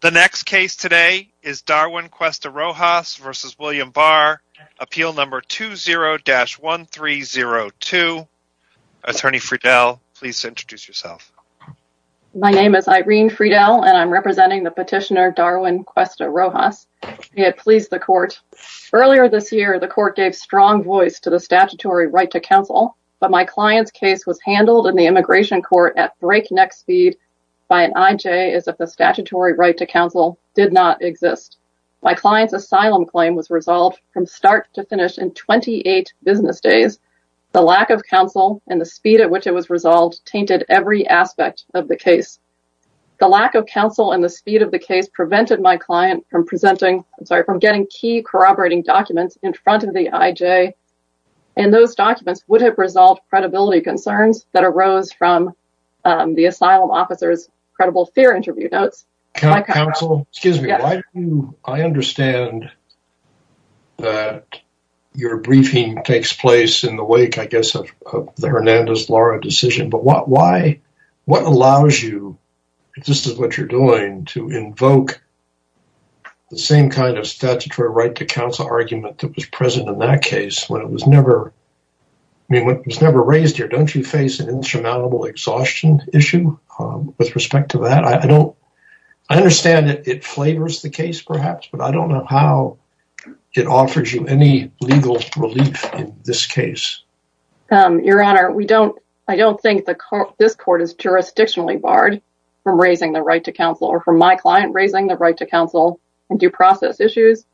The next case today is Darwin Cuesta-Rojas v. William Barr, appeal number 20-1302. Attorney Friedel, please introduce yourself. My name is Irene Friedel, and I'm representing the petitioner Darwin Cuesta-Rojas. He had pleased the court. Earlier this year, the court gave strong voice to the statutory right to counsel, but my client's case was handled in the immigration court at breakneck speed by an IJ as if the statutory right to counsel did not exist. My client's asylum claim was resolved from start to finish in 28 business days. The lack of counsel and the speed at which it was resolved tainted every aspect of the case. The lack of counsel and the speed of the case prevented my client from getting key corroborating documents in front of the IJ, and those documents would have resolved credibility concerns that arose from the asylum officer's credible fear interview notes. Counsel, excuse me, I understand that your briefing takes place in the wake, I guess, of the Hernandez-Lara decision, but what allows you, if this is what you're doing, to invoke the same kind of statutory right to counsel argument that was present in that case when it was never raised here? Don't you face an insurmountable exhaustion issue with respect to that? I understand that it flavors the case, perhaps, but I don't know how it offers you any legal relief in this case. Your Honor, I don't think this court is jurisdictionally barred from raising the right to counsel or from my client raising the right to counsel and due process issues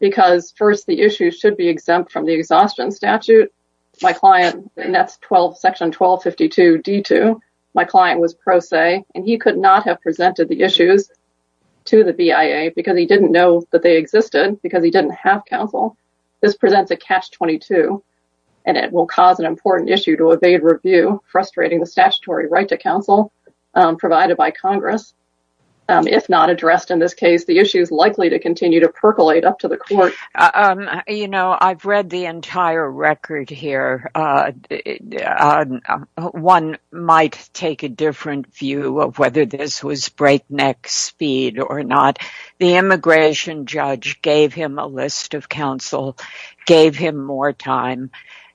because, first, the issue should be exempt from the exhaustion statute. My client, and that's section 1252d2, my client was pro se, and he could not have presented the issues to the BIA because he didn't know that they existed because he didn't have counsel. This presents a catch-22, and it will cause an important issue to evade review, frustrating the statutory right to counsel provided by Congress. If not addressed in this case, the issue is likely to continue to percolate up to the court. You know, I've read the entire record here. One might take a different view of whether this was breakneck speed or not. The immigration judge gave him a list of counsel, gave him more time,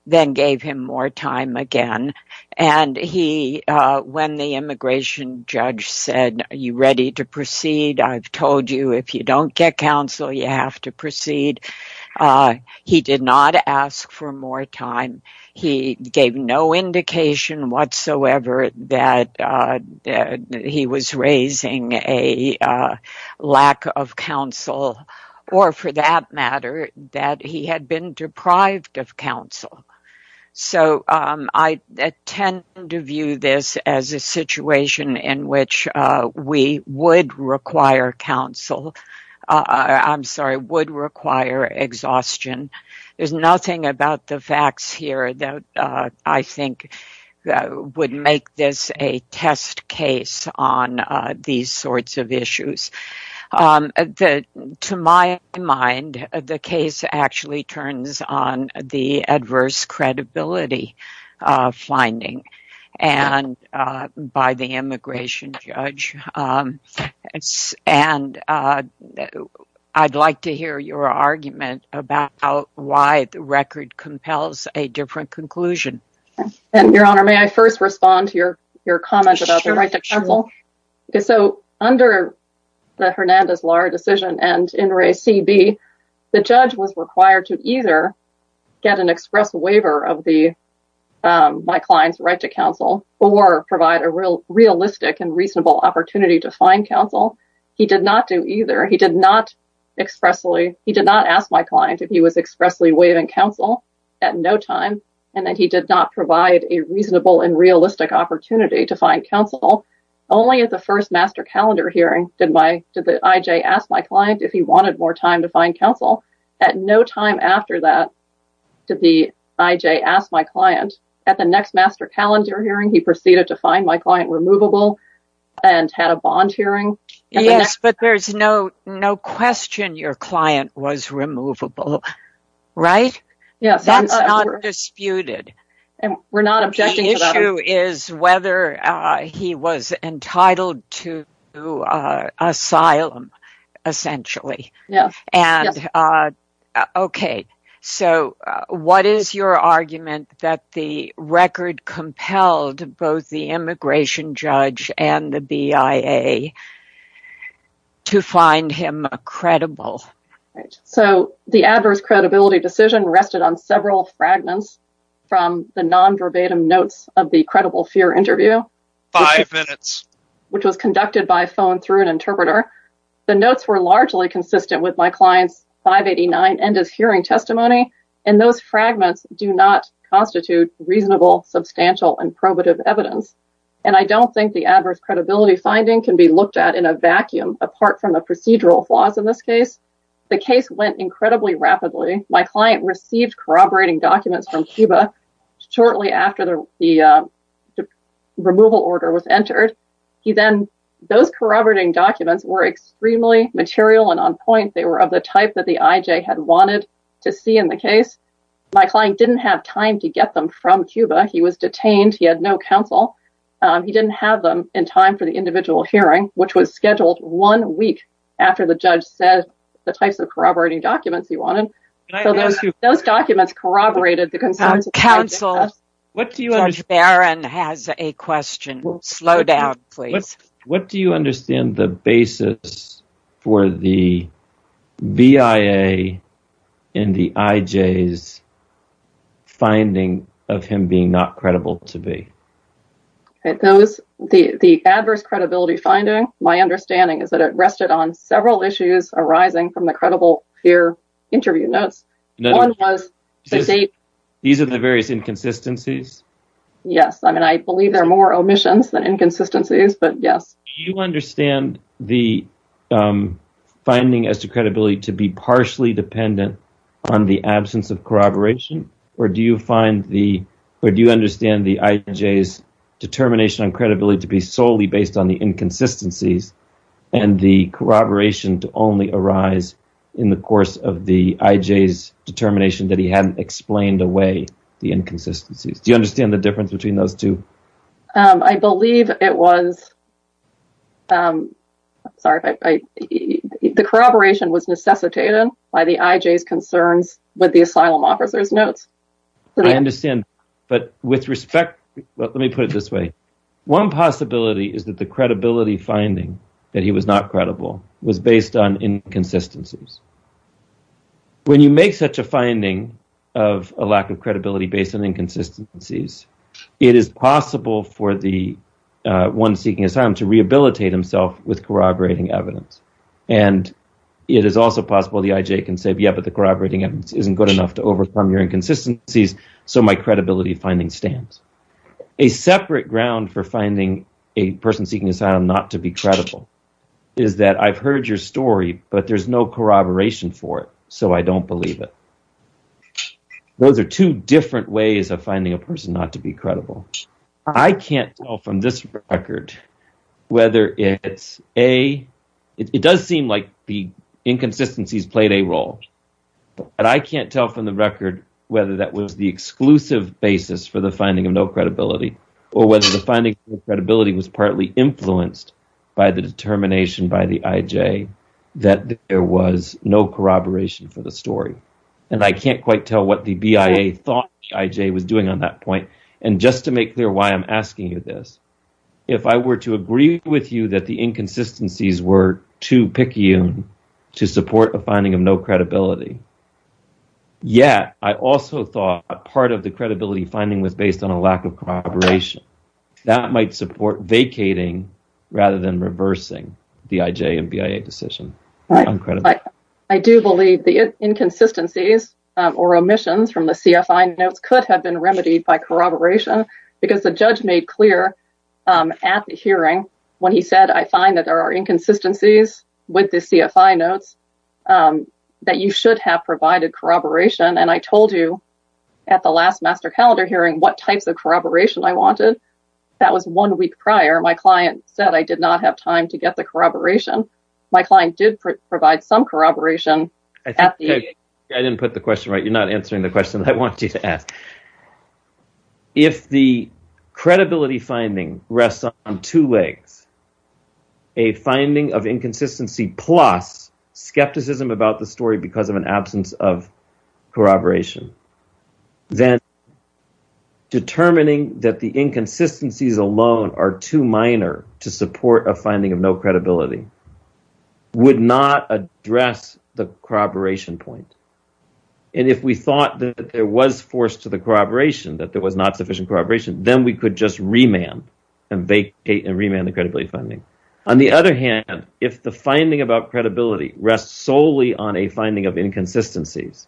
then gave him more time again, and he, when the immigration judge said, are you ready to proceed? I've told you if you don't get counsel, you have to proceed. He did not ask for more time. He gave no indication whatsoever that he was raising a counsel or, for that matter, that he had been deprived of counsel. So, I tend to view this as a situation in which we would require counsel. I'm sorry, would require exhaustion. There's nothing about the facts here that I think would make this a test case on these sorts of issues. To my mind, the case actually turns on the adverse credibility finding by the immigration judge. I'd like to hear your argument about why the record compels a different conclusion. And, Your Honor, may I first respond to your comment about the right to counsel? So, under the Hernandez-Lahr decision and In Re CB, the judge was required to either get an express waiver of my client's right to counsel or provide a realistic and reasonable opportunity to find counsel. He did not do either. He did not expressly, he did not ask my client if he was expressly waiving counsel at no time, and then he did not provide a reasonable and realistic opportunity to find counsel. Only at the first master calendar hearing did the I.J. ask my client if he wanted more time to find counsel. At no time after that did the I.J. ask my client. At the next master calendar hearing, he proceeded to find my client removable and had a bond hearing. Yes, but there's no question your client was removable, right? That's not disputed. We're not objecting to that. The issue is whether he was entitled to asylum, essentially. Okay, so what is your argument that the record compelled both the immigration judge and the BIA to find him credible? So the adverse credibility decision rested on several fragments from the non-verbatim notes of the credible fear interview, which was conducted by phone through an interpreter. The notes were largely consistent with my client's 589 end of hearing testimony, and those fragments do not constitute reasonable, substantial, and probative evidence, and I don't think the adverse credibility decision was made in a vacuum, apart from the procedural flaws in this case. The case went incredibly rapidly. My client received corroborating documents from Cuba shortly after the removal order was entered. Those corroborating documents were extremely material and on point. They were of the type that the I.J. had wanted to see in the case. My client didn't have time to get them from Cuba. He was detained. He had no counsel. He didn't have them in time for the individual hearing, which was scheduled one week after the judge said the types of corroborating documents he wanted. So those documents corroborated the concerns of the judge's counsel. Judge Barron has a question. Slow down, please. What do you understand the basis for the BIA and the I.J.'s finding of him being not credible to be? The adverse credibility finding, my understanding is that it rested on several issues arising from the credible peer interview notes. These are the various inconsistencies? Yes. I mean, I believe there are more omissions than inconsistencies, but yes. Do you understand the finding as to credibility to be partially dependent on the absence of determination on credibility to be solely based on the inconsistencies and the corroboration to only arise in the course of the I.J.'s determination that he hadn't explained away the inconsistencies? Do you understand the difference between those two? I believe it was, sorry, the corroboration was necessitated by the I.J.'s concerns with the asylum officer's notes. I understand, but with respect, let me put it this way. One possibility is that the credibility finding that he was not credible was based on inconsistencies. When you make such a finding of a lack of credibility based on inconsistencies, it is possible for the one seeking asylum to rehabilitate himself with corroborating evidence, and it is also possible the I.J. can say, but the corroborating evidence isn't good enough to overcome your inconsistencies, so my credibility finding stands. A separate ground for finding a person seeking asylum not to be credible is that I've heard your story, but there's no corroboration for it, so I don't believe it. Those are two different ways of finding a person not to be credible. I can't tell from the record whether that was the exclusive basis for the finding of no credibility or whether the finding of credibility was partly influenced by the determination by the I.J. that there was no corroboration for the story, and I can't quite tell what the BIA thought the I.J. was doing on that point. Just to make clear why I'm asking you this, if I were to agree with you the inconsistencies were too picky to support a finding of no credibility, yet I also thought part of the credibility finding was based on a lack of corroboration. That might support vacating rather than reversing the I.J. and BIA decision. I do believe the inconsistencies or omissions from the CFI notes could have been remedied by finding that there are inconsistencies with the CFI notes that you should have provided corroboration. I told you at the last Master Calendar hearing what types of corroboration I wanted. That was one week prior. My client said I did not have time to get the corroboration. My client did provide some corroboration. I didn't put the question right. You're not answering the question I want you to ask. If the credibility finding rests on two legs, a finding of inconsistency plus skepticism about the story because of an absence of corroboration, then determining that the inconsistencies alone are too minor to support a finding of no credibility would not address the corroboration point. If we thought that there was force to the corroboration, that there was not sufficient corroboration, then we could just remand the credibility finding. On the other hand, if the finding about credibility rests solely on a finding of inconsistencies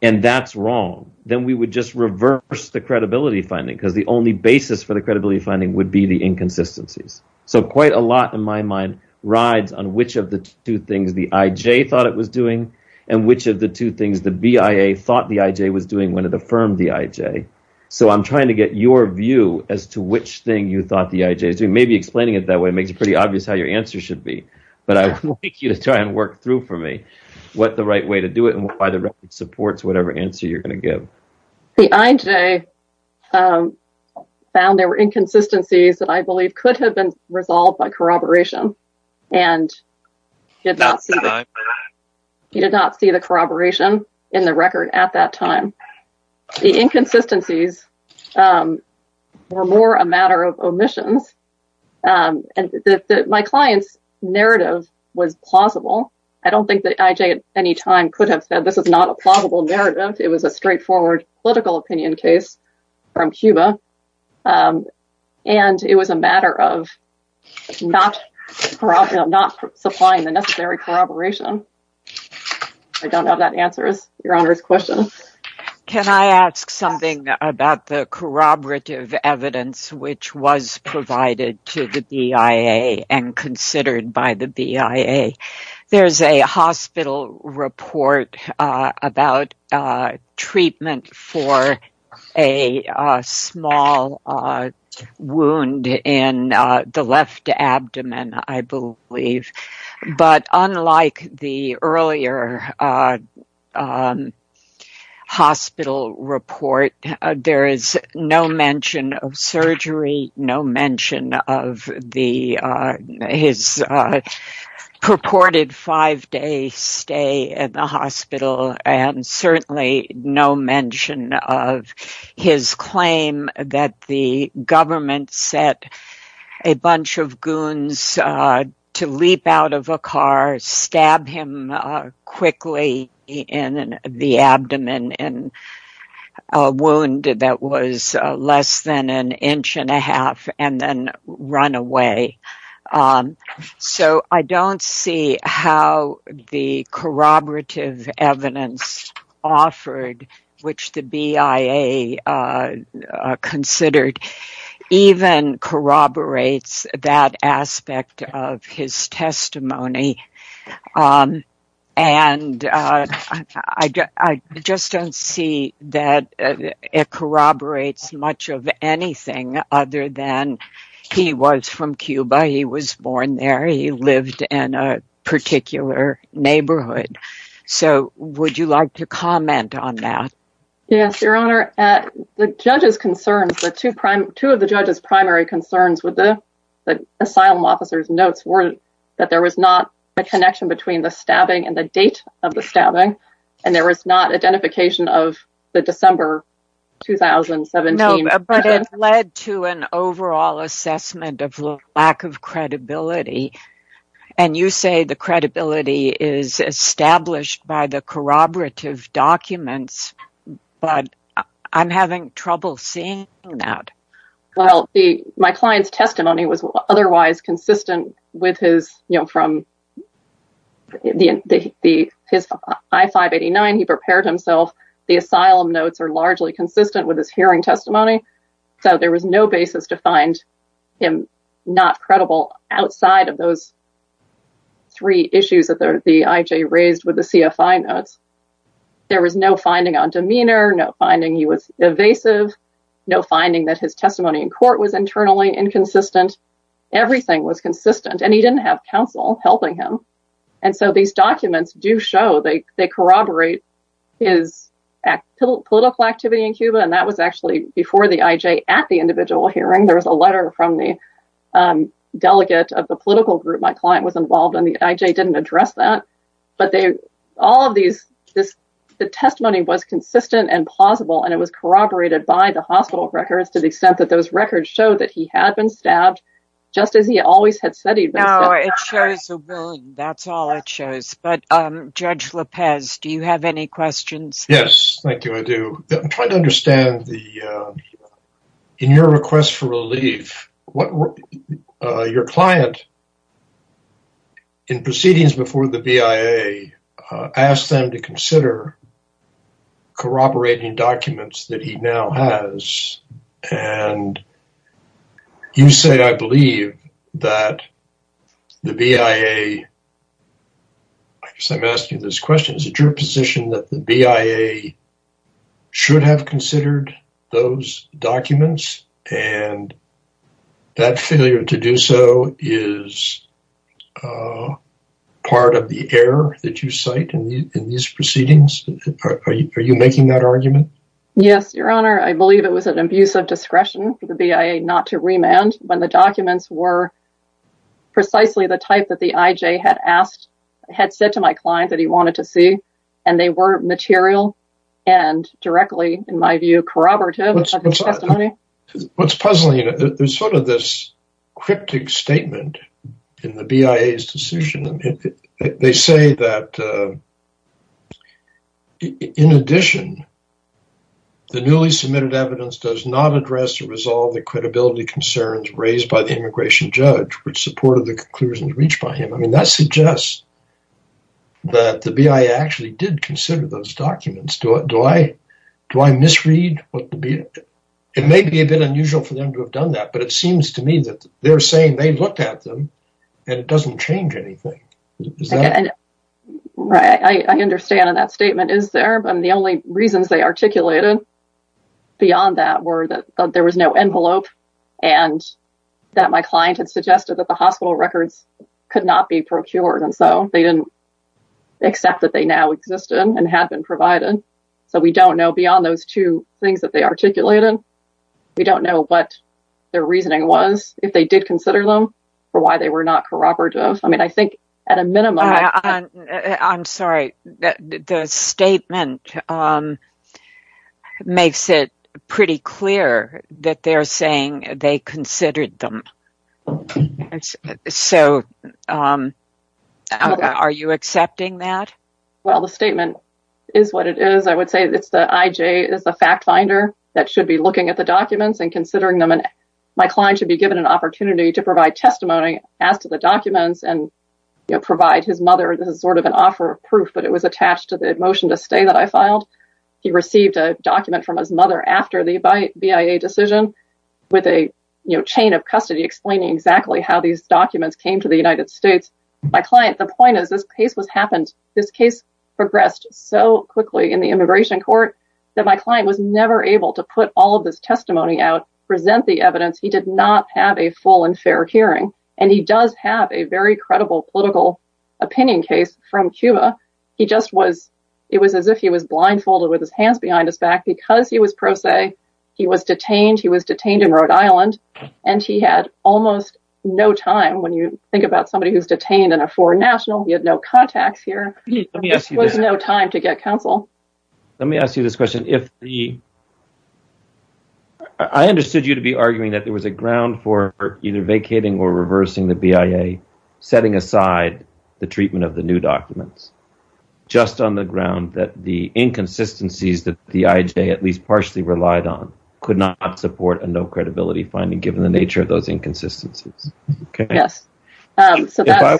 and that's wrong, then we would just reverse the credibility finding because the only basis for the credibility finding would be the inconsistencies. Quite a lot in my mind rides on which of the two things the IJ thought it was doing and which of the two things the BIA thought the IJ was doing when it affirmed the IJ. I'm trying to get your view as to which thing you thought the IJ is doing. Maybe explaining it that way makes it pretty obvious how your answer should be, but I would like you to try and work through for me what the right way to do it and why the record supports whatever answer you're going to give. The IJ found there were inconsistencies that I believe could have been resolved by corroboration and he did not see the corroboration in the record at that time. The inconsistencies were more a matter of omissions. My client's narrative was plausible. I don't think the IJ at any time could have said this is not a plausible narrative. It was a straightforward political opinion case from Cuba and it was a matter of not supplying the necessary corroboration. I don't know if that answers your Honor's question. Can I ask something about the corroborative evidence which was provided to the BIA and considered by the BIA? There's a hospital report about treatment for a small wound in the left abdomen, I believe, but unlike the earlier hospital report, there is no mention of surgery, no mention of his purported five-day stay at the hospital, and certainly no mention of his claim that the government set a bunch of goons to leap out of a car, stab him quickly in the abdomen in a wound that was less than an inch and a half, and then run away. So I don't see how the corroborative evidence offered, which the BIA considered, even corroborates that aspect of his testimony. I just don't see that it corroborates much of anything other than he was from Cuba, he was born there, he lived in a particular neighborhood. So would you like to comment on that? Yes, your Honor. The judge's concerns, the two of the judge's primary concerns with the asylum officer's notes were that there was not a connection between the stabbing and the date of the stabbing, and there was not identification of the December 2017. No, but it led to an overall assessment of lack of credibility, and you say the credibility is established by the corroborative documents, but I'm having trouble seeing that. Well, my client's testimony was otherwise consistent with his, you know, from his I-589, he prepared himself, the asylum notes are largely consistent with his hearing testimony, so there was no basis to find him not credible outside of those three issues that the IJ raised with the CFI notes. There was no finding on demeanor, no finding he was evasive, no finding that his testimony in court was internally inconsistent, everything was consistent, and he didn't have counsel helping him. And so these documents do show, they corroborate his political activity in Cuba, and that was actually before the IJ at the individual hearing, there was a letter from the delegate of the political group my client was involved in, the IJ didn't address that, but all of these, the testimony was consistent and plausible, and it was corroborated by the hospital records to the extent that those records show that he had been stabbed, just as he always had said he'd been stabbed. It shows the wound, that's all it shows, but Judge Lopez, do you have any questions? Yes, thank you, I do. I'm trying to understand the, in your request for relief, what, your client in proceedings before the BIA asked them to consider corroborating documents that he now has, and you say, I believe that the BIA, I guess I'm asking this question, is it your position that the BIA should have considered those documents, and that failure to do so is part of the error that you cite in these proceedings? Are you making that argument? Yes, your honor, I believe it was an abuse of discretion for the BIA not to remand when the documents were precisely the type that the IJ had asked, had said to my client that he wanted to see, and they were material, and directly, in my view, corroborative of his testimony. What's puzzling, there's sort of this cryptic statement in the BIA's decision, they say that in addition, the newly submitted evidence does not address or resolve the credibility concerns raised by the immigration judge, which supported the conclusions reached by him. I mean, that suggests that the BIA actually did consider those documents. Do I misread? It may be a bit unusual for them to have done that, but it seems to me that they're saying they looked at them, and it doesn't change anything. Right, I understand that statement is there, but the only reasons they articulated beyond that were that there was no envelope, and that my client had suggested that the hospital records could not be procured, and so they didn't accept that they now existed, and had been provided. So we don't know beyond those two things that they articulated, we don't know what their were not corroborative of. I mean, I think at a minimum... I'm sorry, the statement makes it pretty clear that they're saying they considered them. So, are you accepting that? Well, the statement is what it is. I would say it's the IJ is the fact finder that should be looking at the documents, and considering them, and my client should be given an opportunity to pass to the documents and provide his mother, this is sort of an offer of proof, but it was attached to the motion to stay that I filed. He received a document from his mother after the BIA decision with a chain of custody explaining exactly how these documents came to the United States. My client, the point is this case was happened, this case progressed so quickly in the immigration court that my client was never able to put all of this testimony out, present the evidence, he did not have a full and fair hearing, and he does have a very credible political opinion case from Cuba. He just was, it was as if he was blindfolded with his hands behind his back because he was pro se, he was detained, he was detained in Rhode Island, and he had almost no time. When you think about somebody who's detained in a foreign national, he had no contacts here, there was no time to get counsel. Let me ask you this question. I understood you to be arguing that there was a ground for either vacating or reversing the BIA, setting aside the treatment of the new documents, just on the ground that the inconsistencies that the IJ at least partially relied on could not support a no credibility finding given the nature of those inconsistencies. If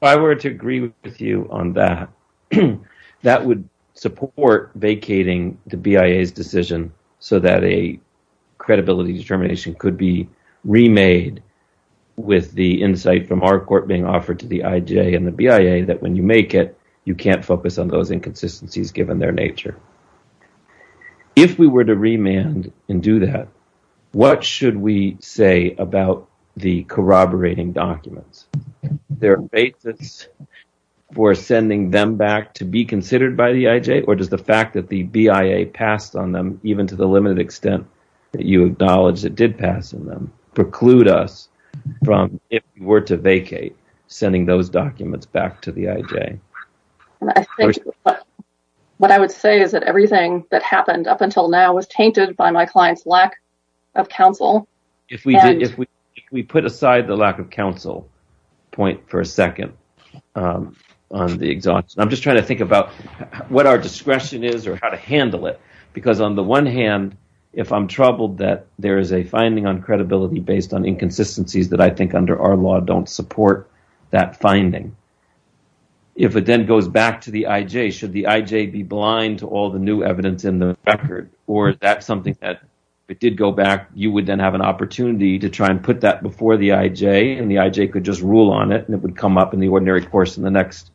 I were to agree with you on that, that would support vacating the BIA's decision so that a credibility determination could be remade with the insight from our court being offered to the IJ and the BIA that when you make it, you can't focus on those inconsistencies given their nature. If we were to remand and do that, what should we say about the corroborating documents? Their basis for sending them back to be considered by the IJ, or does the fact that the BIA passed on them, even to the limited extent that you acknowledge it did pass on them, preclude us from, if we were to vacate, sending those documents back to the IJ? What I would say is that everything that happened up until now was tainted by my client's lack of counsel. If we put aside the lack of counsel point for a second on the exhaustion, I'm just trying to think about what our discretion is or how to handle it because on the one hand, if I'm troubled that there is a finding on credibility based on inconsistencies that I think under our law don't support that finding, if it then goes back to the IJ, should the IJ be blind to all the new evidence in the record or is that something that if it did go back, you would then have an opportunity to try and put that before the IJ and the IJ could just rule on it and it would come up in the ordinary course in the next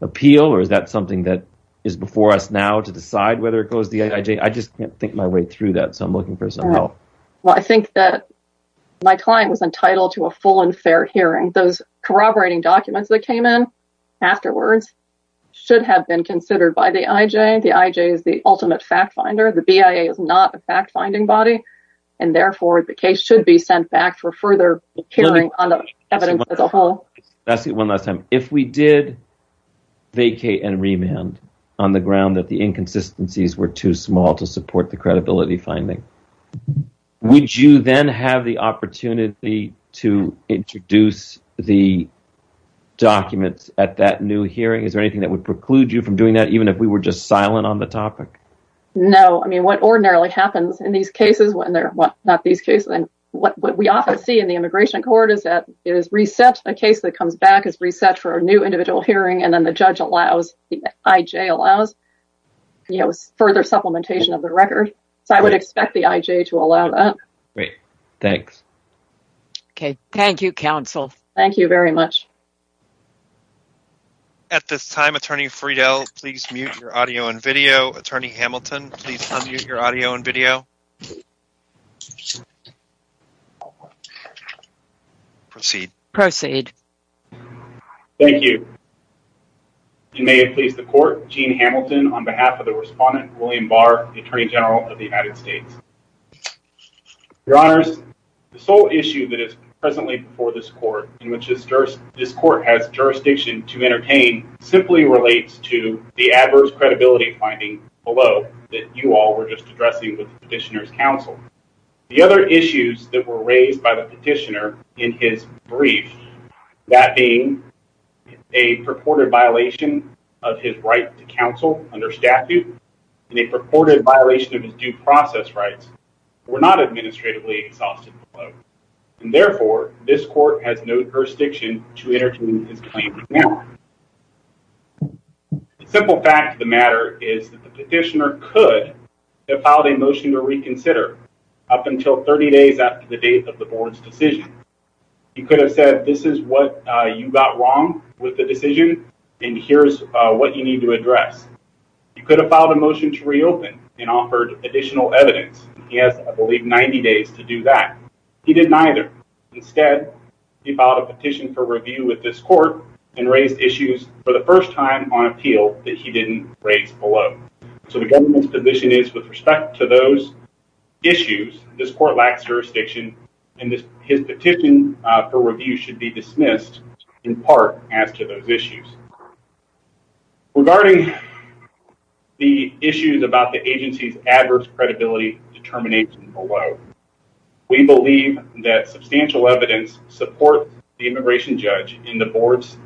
appeal or is that something that is before us now to decide whether it goes to the IJ? I just can't think my way through that so I'm looking for some help. Well, I think that my client was entitled to a full and fair hearing. Those corroborating documents that came in afterwards should have been considered by the IJ. The IJ is the ultimate fact finder. The BIA is not a fact finding body and therefore the case should be sent back for further hearing on the evidence I'll ask you one last time. If we did vacate and remand on the ground that the inconsistencies were too small to support the credibility finding, would you then have the opportunity to introduce the documents at that new hearing? Is there anything that would preclude you from doing that even if we were just silent on the topic? No, I mean what ordinarily happens in these cases when they're not these cases and what we often see in the immigration court is that it is reset. A case that comes back is reset for a new individual hearing and then the judge allows, the IJ allows, you know further supplementation of the record so I would expect the IJ to allow that. Great, thanks. Okay, thank you counsel. Thank you very much. At this time, Attorney Friedel, please mute your audio and video. Attorney Hamilton, please unmute your audio and video. Proceed. Proceed. Thank you. You may have pleased the court. Gene Hamilton on behalf of the respondent, William Barr, the Attorney General of the United States. Your honors, the sole issue that is presently before this court in which this court has jurisdiction to entertain simply relates to the adverse credibility finding below that you all were just addressing with the petitioner's counsel. The other issues that were raised by the petitioner in his brief, that being a purported violation of his right to counsel under statute and a purported violation of his due process rights, were not administratively exhausted below and therefore this court has no jurisdiction to entertain his claim now. The simple fact of the matter is that the petitioner could have filed a motion to reconsider up until 30 days after the date of the board's decision. He could have said, this is what you got wrong with the decision and here's what you need to address. You could have filed a motion to reopen and offered additional evidence. He has, I believe, 90 days to do that. He didn't either. Instead, he filed a petition for review with this court and raised issues for the first time on appeal that he didn't raise below. So the government's position is with respect to those issues, this court lacks jurisdiction and his petition for review should be dismissed in part as to those issues. Regarding the issues about the we believe that substantial evidence supports the immigration judge in the board's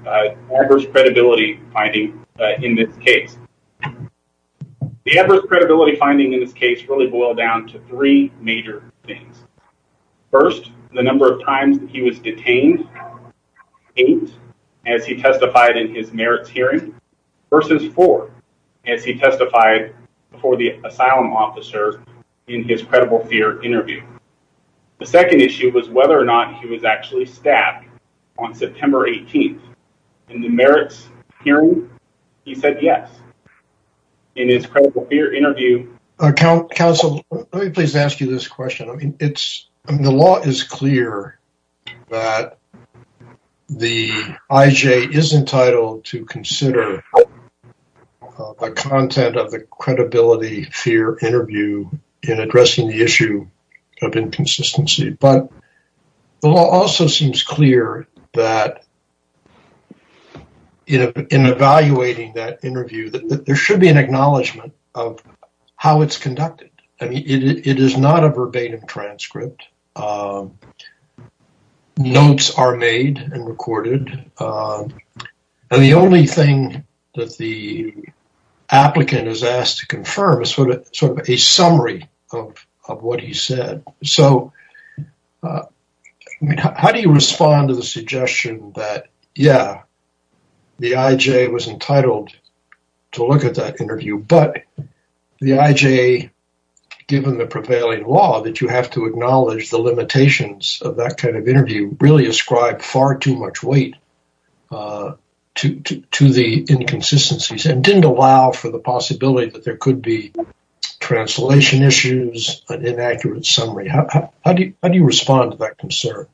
adverse credibility finding in this case. The adverse credibility finding in this case really boiled down to three major things. First, the number of times that he was detained, eight as he testified in his merits hearing versus four as he testified before the asylum officer in his credible fear interview. The second issue was whether or not he was actually stabbed on September 18th. In the merits hearing, he said yes. In his credible fear interview- Counsel, let me please ask you this question. I mean, the law is clear that the IJ is entitled to consider the content of the credibility fear interview in addressing the issue of inconsistency, but the law also seems clear that in evaluating that interview, there should be an acknowledgement of how it's conducted. I mean, it is not a verbatim transcript. Notes are made and recorded, and the only thing that the applicant is asked to confirm is sort of a summary of what he said. So, I mean, how do you respond to the suggestion that, yeah, the IJ was entitled to look at that interview, but the IJ, given the prevailing law, that you have to acknowledge the limitations of that kind of interview, really ascribed far too much weight to the inconsistencies and didn't allow for the possibility that there could be translation issues, an inaccurate summary. How do you respond to that concern?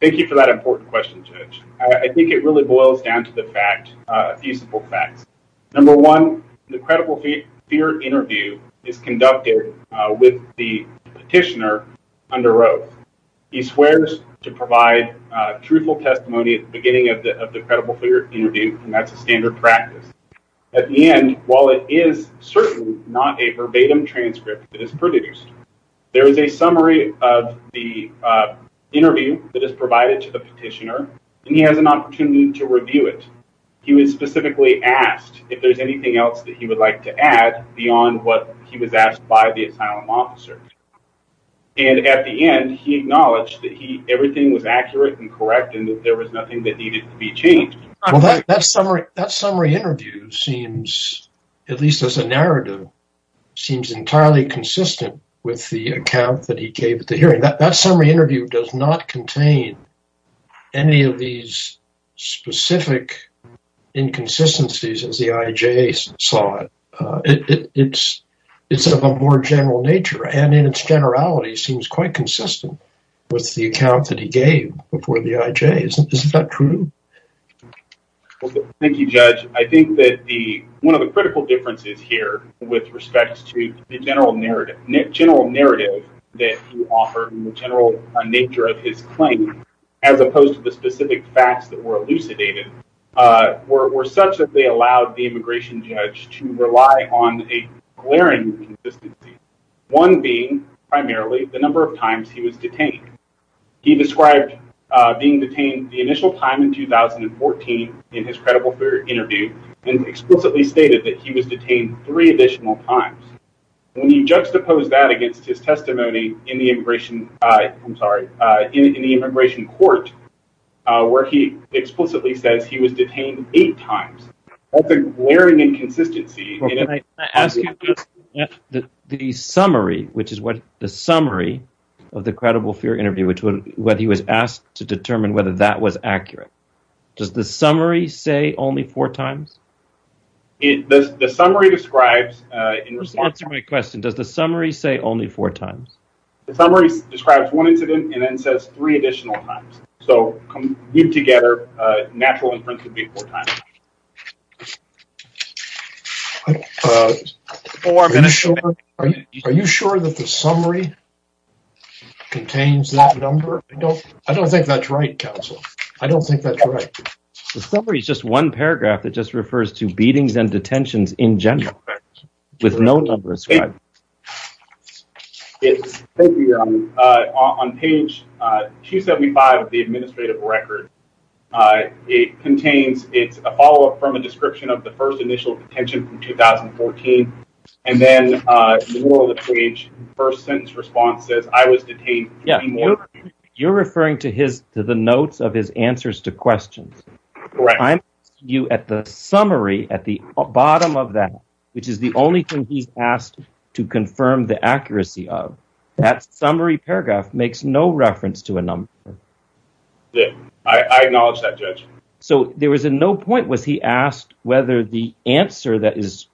Thank you for that important question, Judge. I think it really boils down to the fact, a few simple facts. Number one, the credible fear interview is conducted with the petitioner under oath. He swears to provide truthful testimony at the beginning of the credible fear interview, and that's a standard practice. At the end, while it is certainly not a verbatim transcript that is produced, there is a summary of the interview that is provided to the petitioner, and he has an opportunity to review it. He was specifically asked if there's anything else that he would like to add beyond what he was asked by the asylum officer, and at the end, he acknowledged that everything was accurate and correct and that there was nothing that needed to be changed. Well, that summary interview seems, at least as a narrative, seems entirely consistent with the account that he gave at the hearing. That summary interview does not contain any of these specific inconsistencies as the IJ saw it. It's of a more general nature, and in its generality, seems quite consistent with the account that he gave before the IJ. Isn't that true? Thank you, Judge. I think that one of the critical differences here with respect to the general narrative that you offer and the general nature of his claim, as opposed to the specific facts that were elucidated, were such that they allowed the immigration judge to rely on a glaring consistency, one being primarily the number of times he was detained. He described being detained the initial time in 2014 in his credible fear interview, and explicitly stated that he was detained three additional times. When you juxtapose that against his testimony in the immigration, I'm sorry, in the immigration court, where he explicitly says he was detained eight times, that's a glaring inconsistency. The summary, which is what the summary of the credible fear interview, which was whether he was asked to determine whether that was accurate, does the summary say only four times? The summary describes, in response to my question, does the summary say only four times? The summary describes one incident and then says three additional times. So, put together, natural inference would be four times. Are you sure that the summary contains that number? I don't think that's right, counsel. I don't think that's right. The summary is just one paragraph that just refers to beatings and detentions in general, with no numbers. Thank you, Your Honor. On page 275 of the administrative record, it contains, it's a follow-up from a description of the first initial detention from 2014, and then, in the middle of the page, the first sentence response says, I was detained three more times. You're referring to the notes of his answers to questions. Correct. At the summary, at the bottom of that, which is the only thing he's asked to confirm the accuracy of, that summary paragraph makes no reference to a number. I acknowledge that, Judge. So, there was no point was he asked whether the answer that is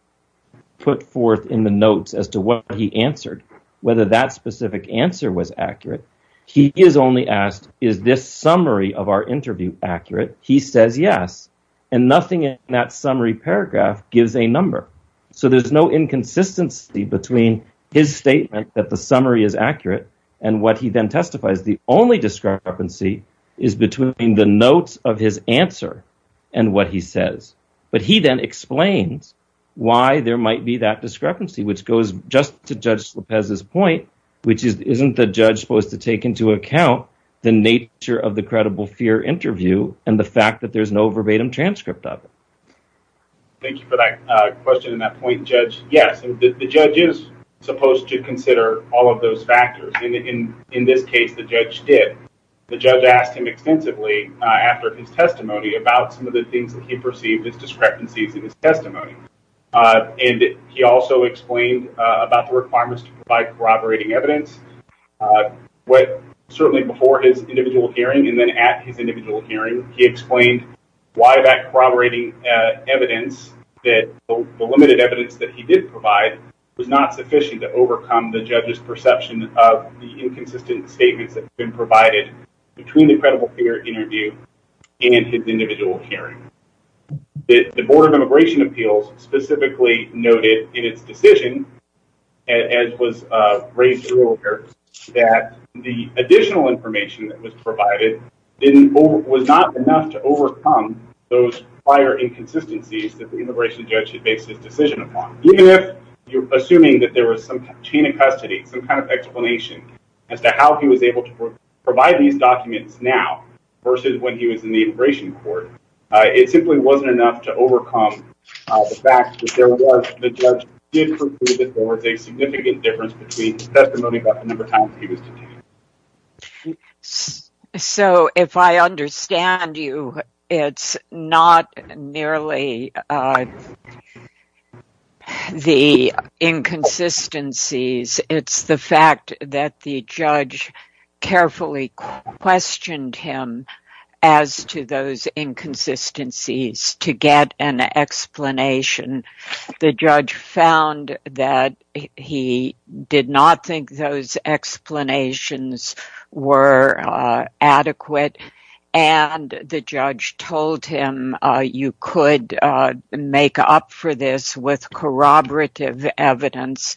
put forth in the notes as to what he answered, whether that specific answer was accurate. He is only asked, is this summary of our interview accurate? He says, yes, and nothing in that summary paragraph gives a number. So, there's no inconsistency between his statement that the summary is accurate and what he then testifies. The only discrepancy is between the notes of his answer and what he says, but he then explains why there might be that discrepancy, which goes just to Judge Lopez's point, which is, isn't the judge supposed to take into account the nature of the credible fear interview and the fact that there's no verbatim transcript of it? Thank you for that question and that point, Judge. Yes, the judge is supposed to consider all of those factors. And in this case, the judge did. The judge asked him extensively after his testimony about some of the things that he perceived as discrepancies in his testimony. And he also explained about the requirements to provide corroborating evidence. But certainly before his individual hearing and then at his individual hearing, he explained why that corroborating evidence that the limited evidence that he did provide was not sufficient to overcome the judge's perception of the inconsistent statements that have been provided between the credible fear interview and his individual hearing. The Board of Immigration Appeals specifically noted in its decision, as was raised earlier, that the additional information that was provided was not enough to overcome those prior inconsistencies that the immigration judge had based his decision upon. Even if you're assuming that there was some chain of custody, some kind of explanation as to how he was able to provide these documents now versus when he was in the immigration court, it simply wasn't enough to overcome the fact that the judge did prove that there was a significant difference between the testimony about the number of times he was detained. So if I understand you, it's not nearly the inconsistencies. It's the fact that the judge carefully questioned him as to those inconsistencies to get an explanation. The judge found that he did not think those explanations were adequate, and the judge told him you could make up for this with corroborative evidence.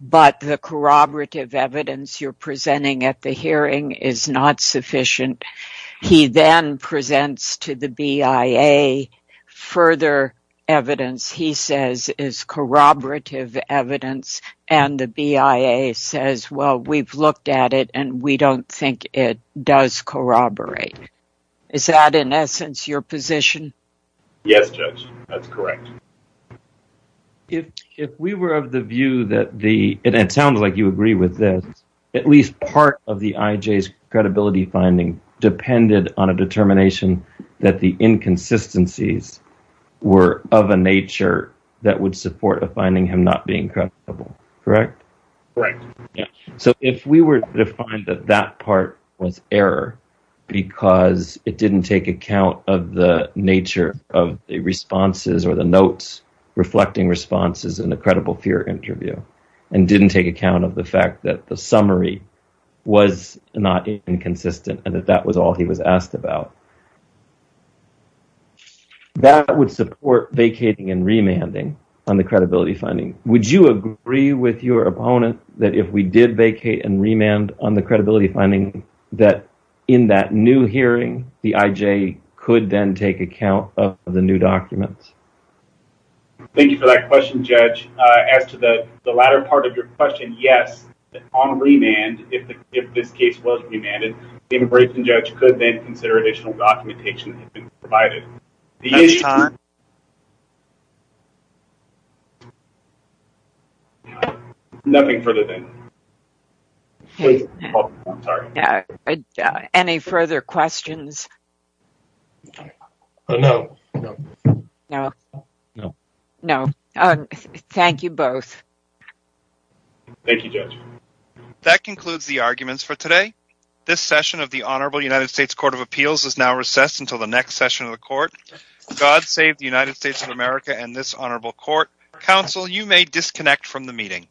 But the corroborative evidence you're presenting at the hearing is not sufficient. He then presents to the BIA further evidence he says is corroborative evidence, and the BIA says, well, we've looked at it, and we don't think it does corroborate. Is that, in essence, your position? Yes, Judge, that's correct. If we were of the view that the—and it sounds like you agree with this—at least part of the IJ's credibility finding depended on a determination that the inconsistencies were of a nature that would support a finding him not being credible, correct? Correct. So if we were to find that that part was error because it didn't take account of the nature of the responses or the notes reflecting responses in the credible fear interview and didn't take account of the fact that the summary was not inconsistent and that that was all he was asked about, that would support vacating and remanding on the credibility finding. Would you agree with your opponent that if we did vacate and remand on the credibility finding that in that new hearing, the IJ could then take account of the new documents? Thank you for that question, Judge. As to the latter part of your question, yes, on remand, if this case was remanded, the immigration judge could then consider additional documentation that had been provided. Any further questions? No. No. No. No. Thank you both. Thank you, Judge. That concludes the arguments for today. This session of the Honorable United States Court of Appeals is now recessed until the next session of the Court. God save the United States of America and this Honorable Court. Counsel, you may disconnect from the meeting.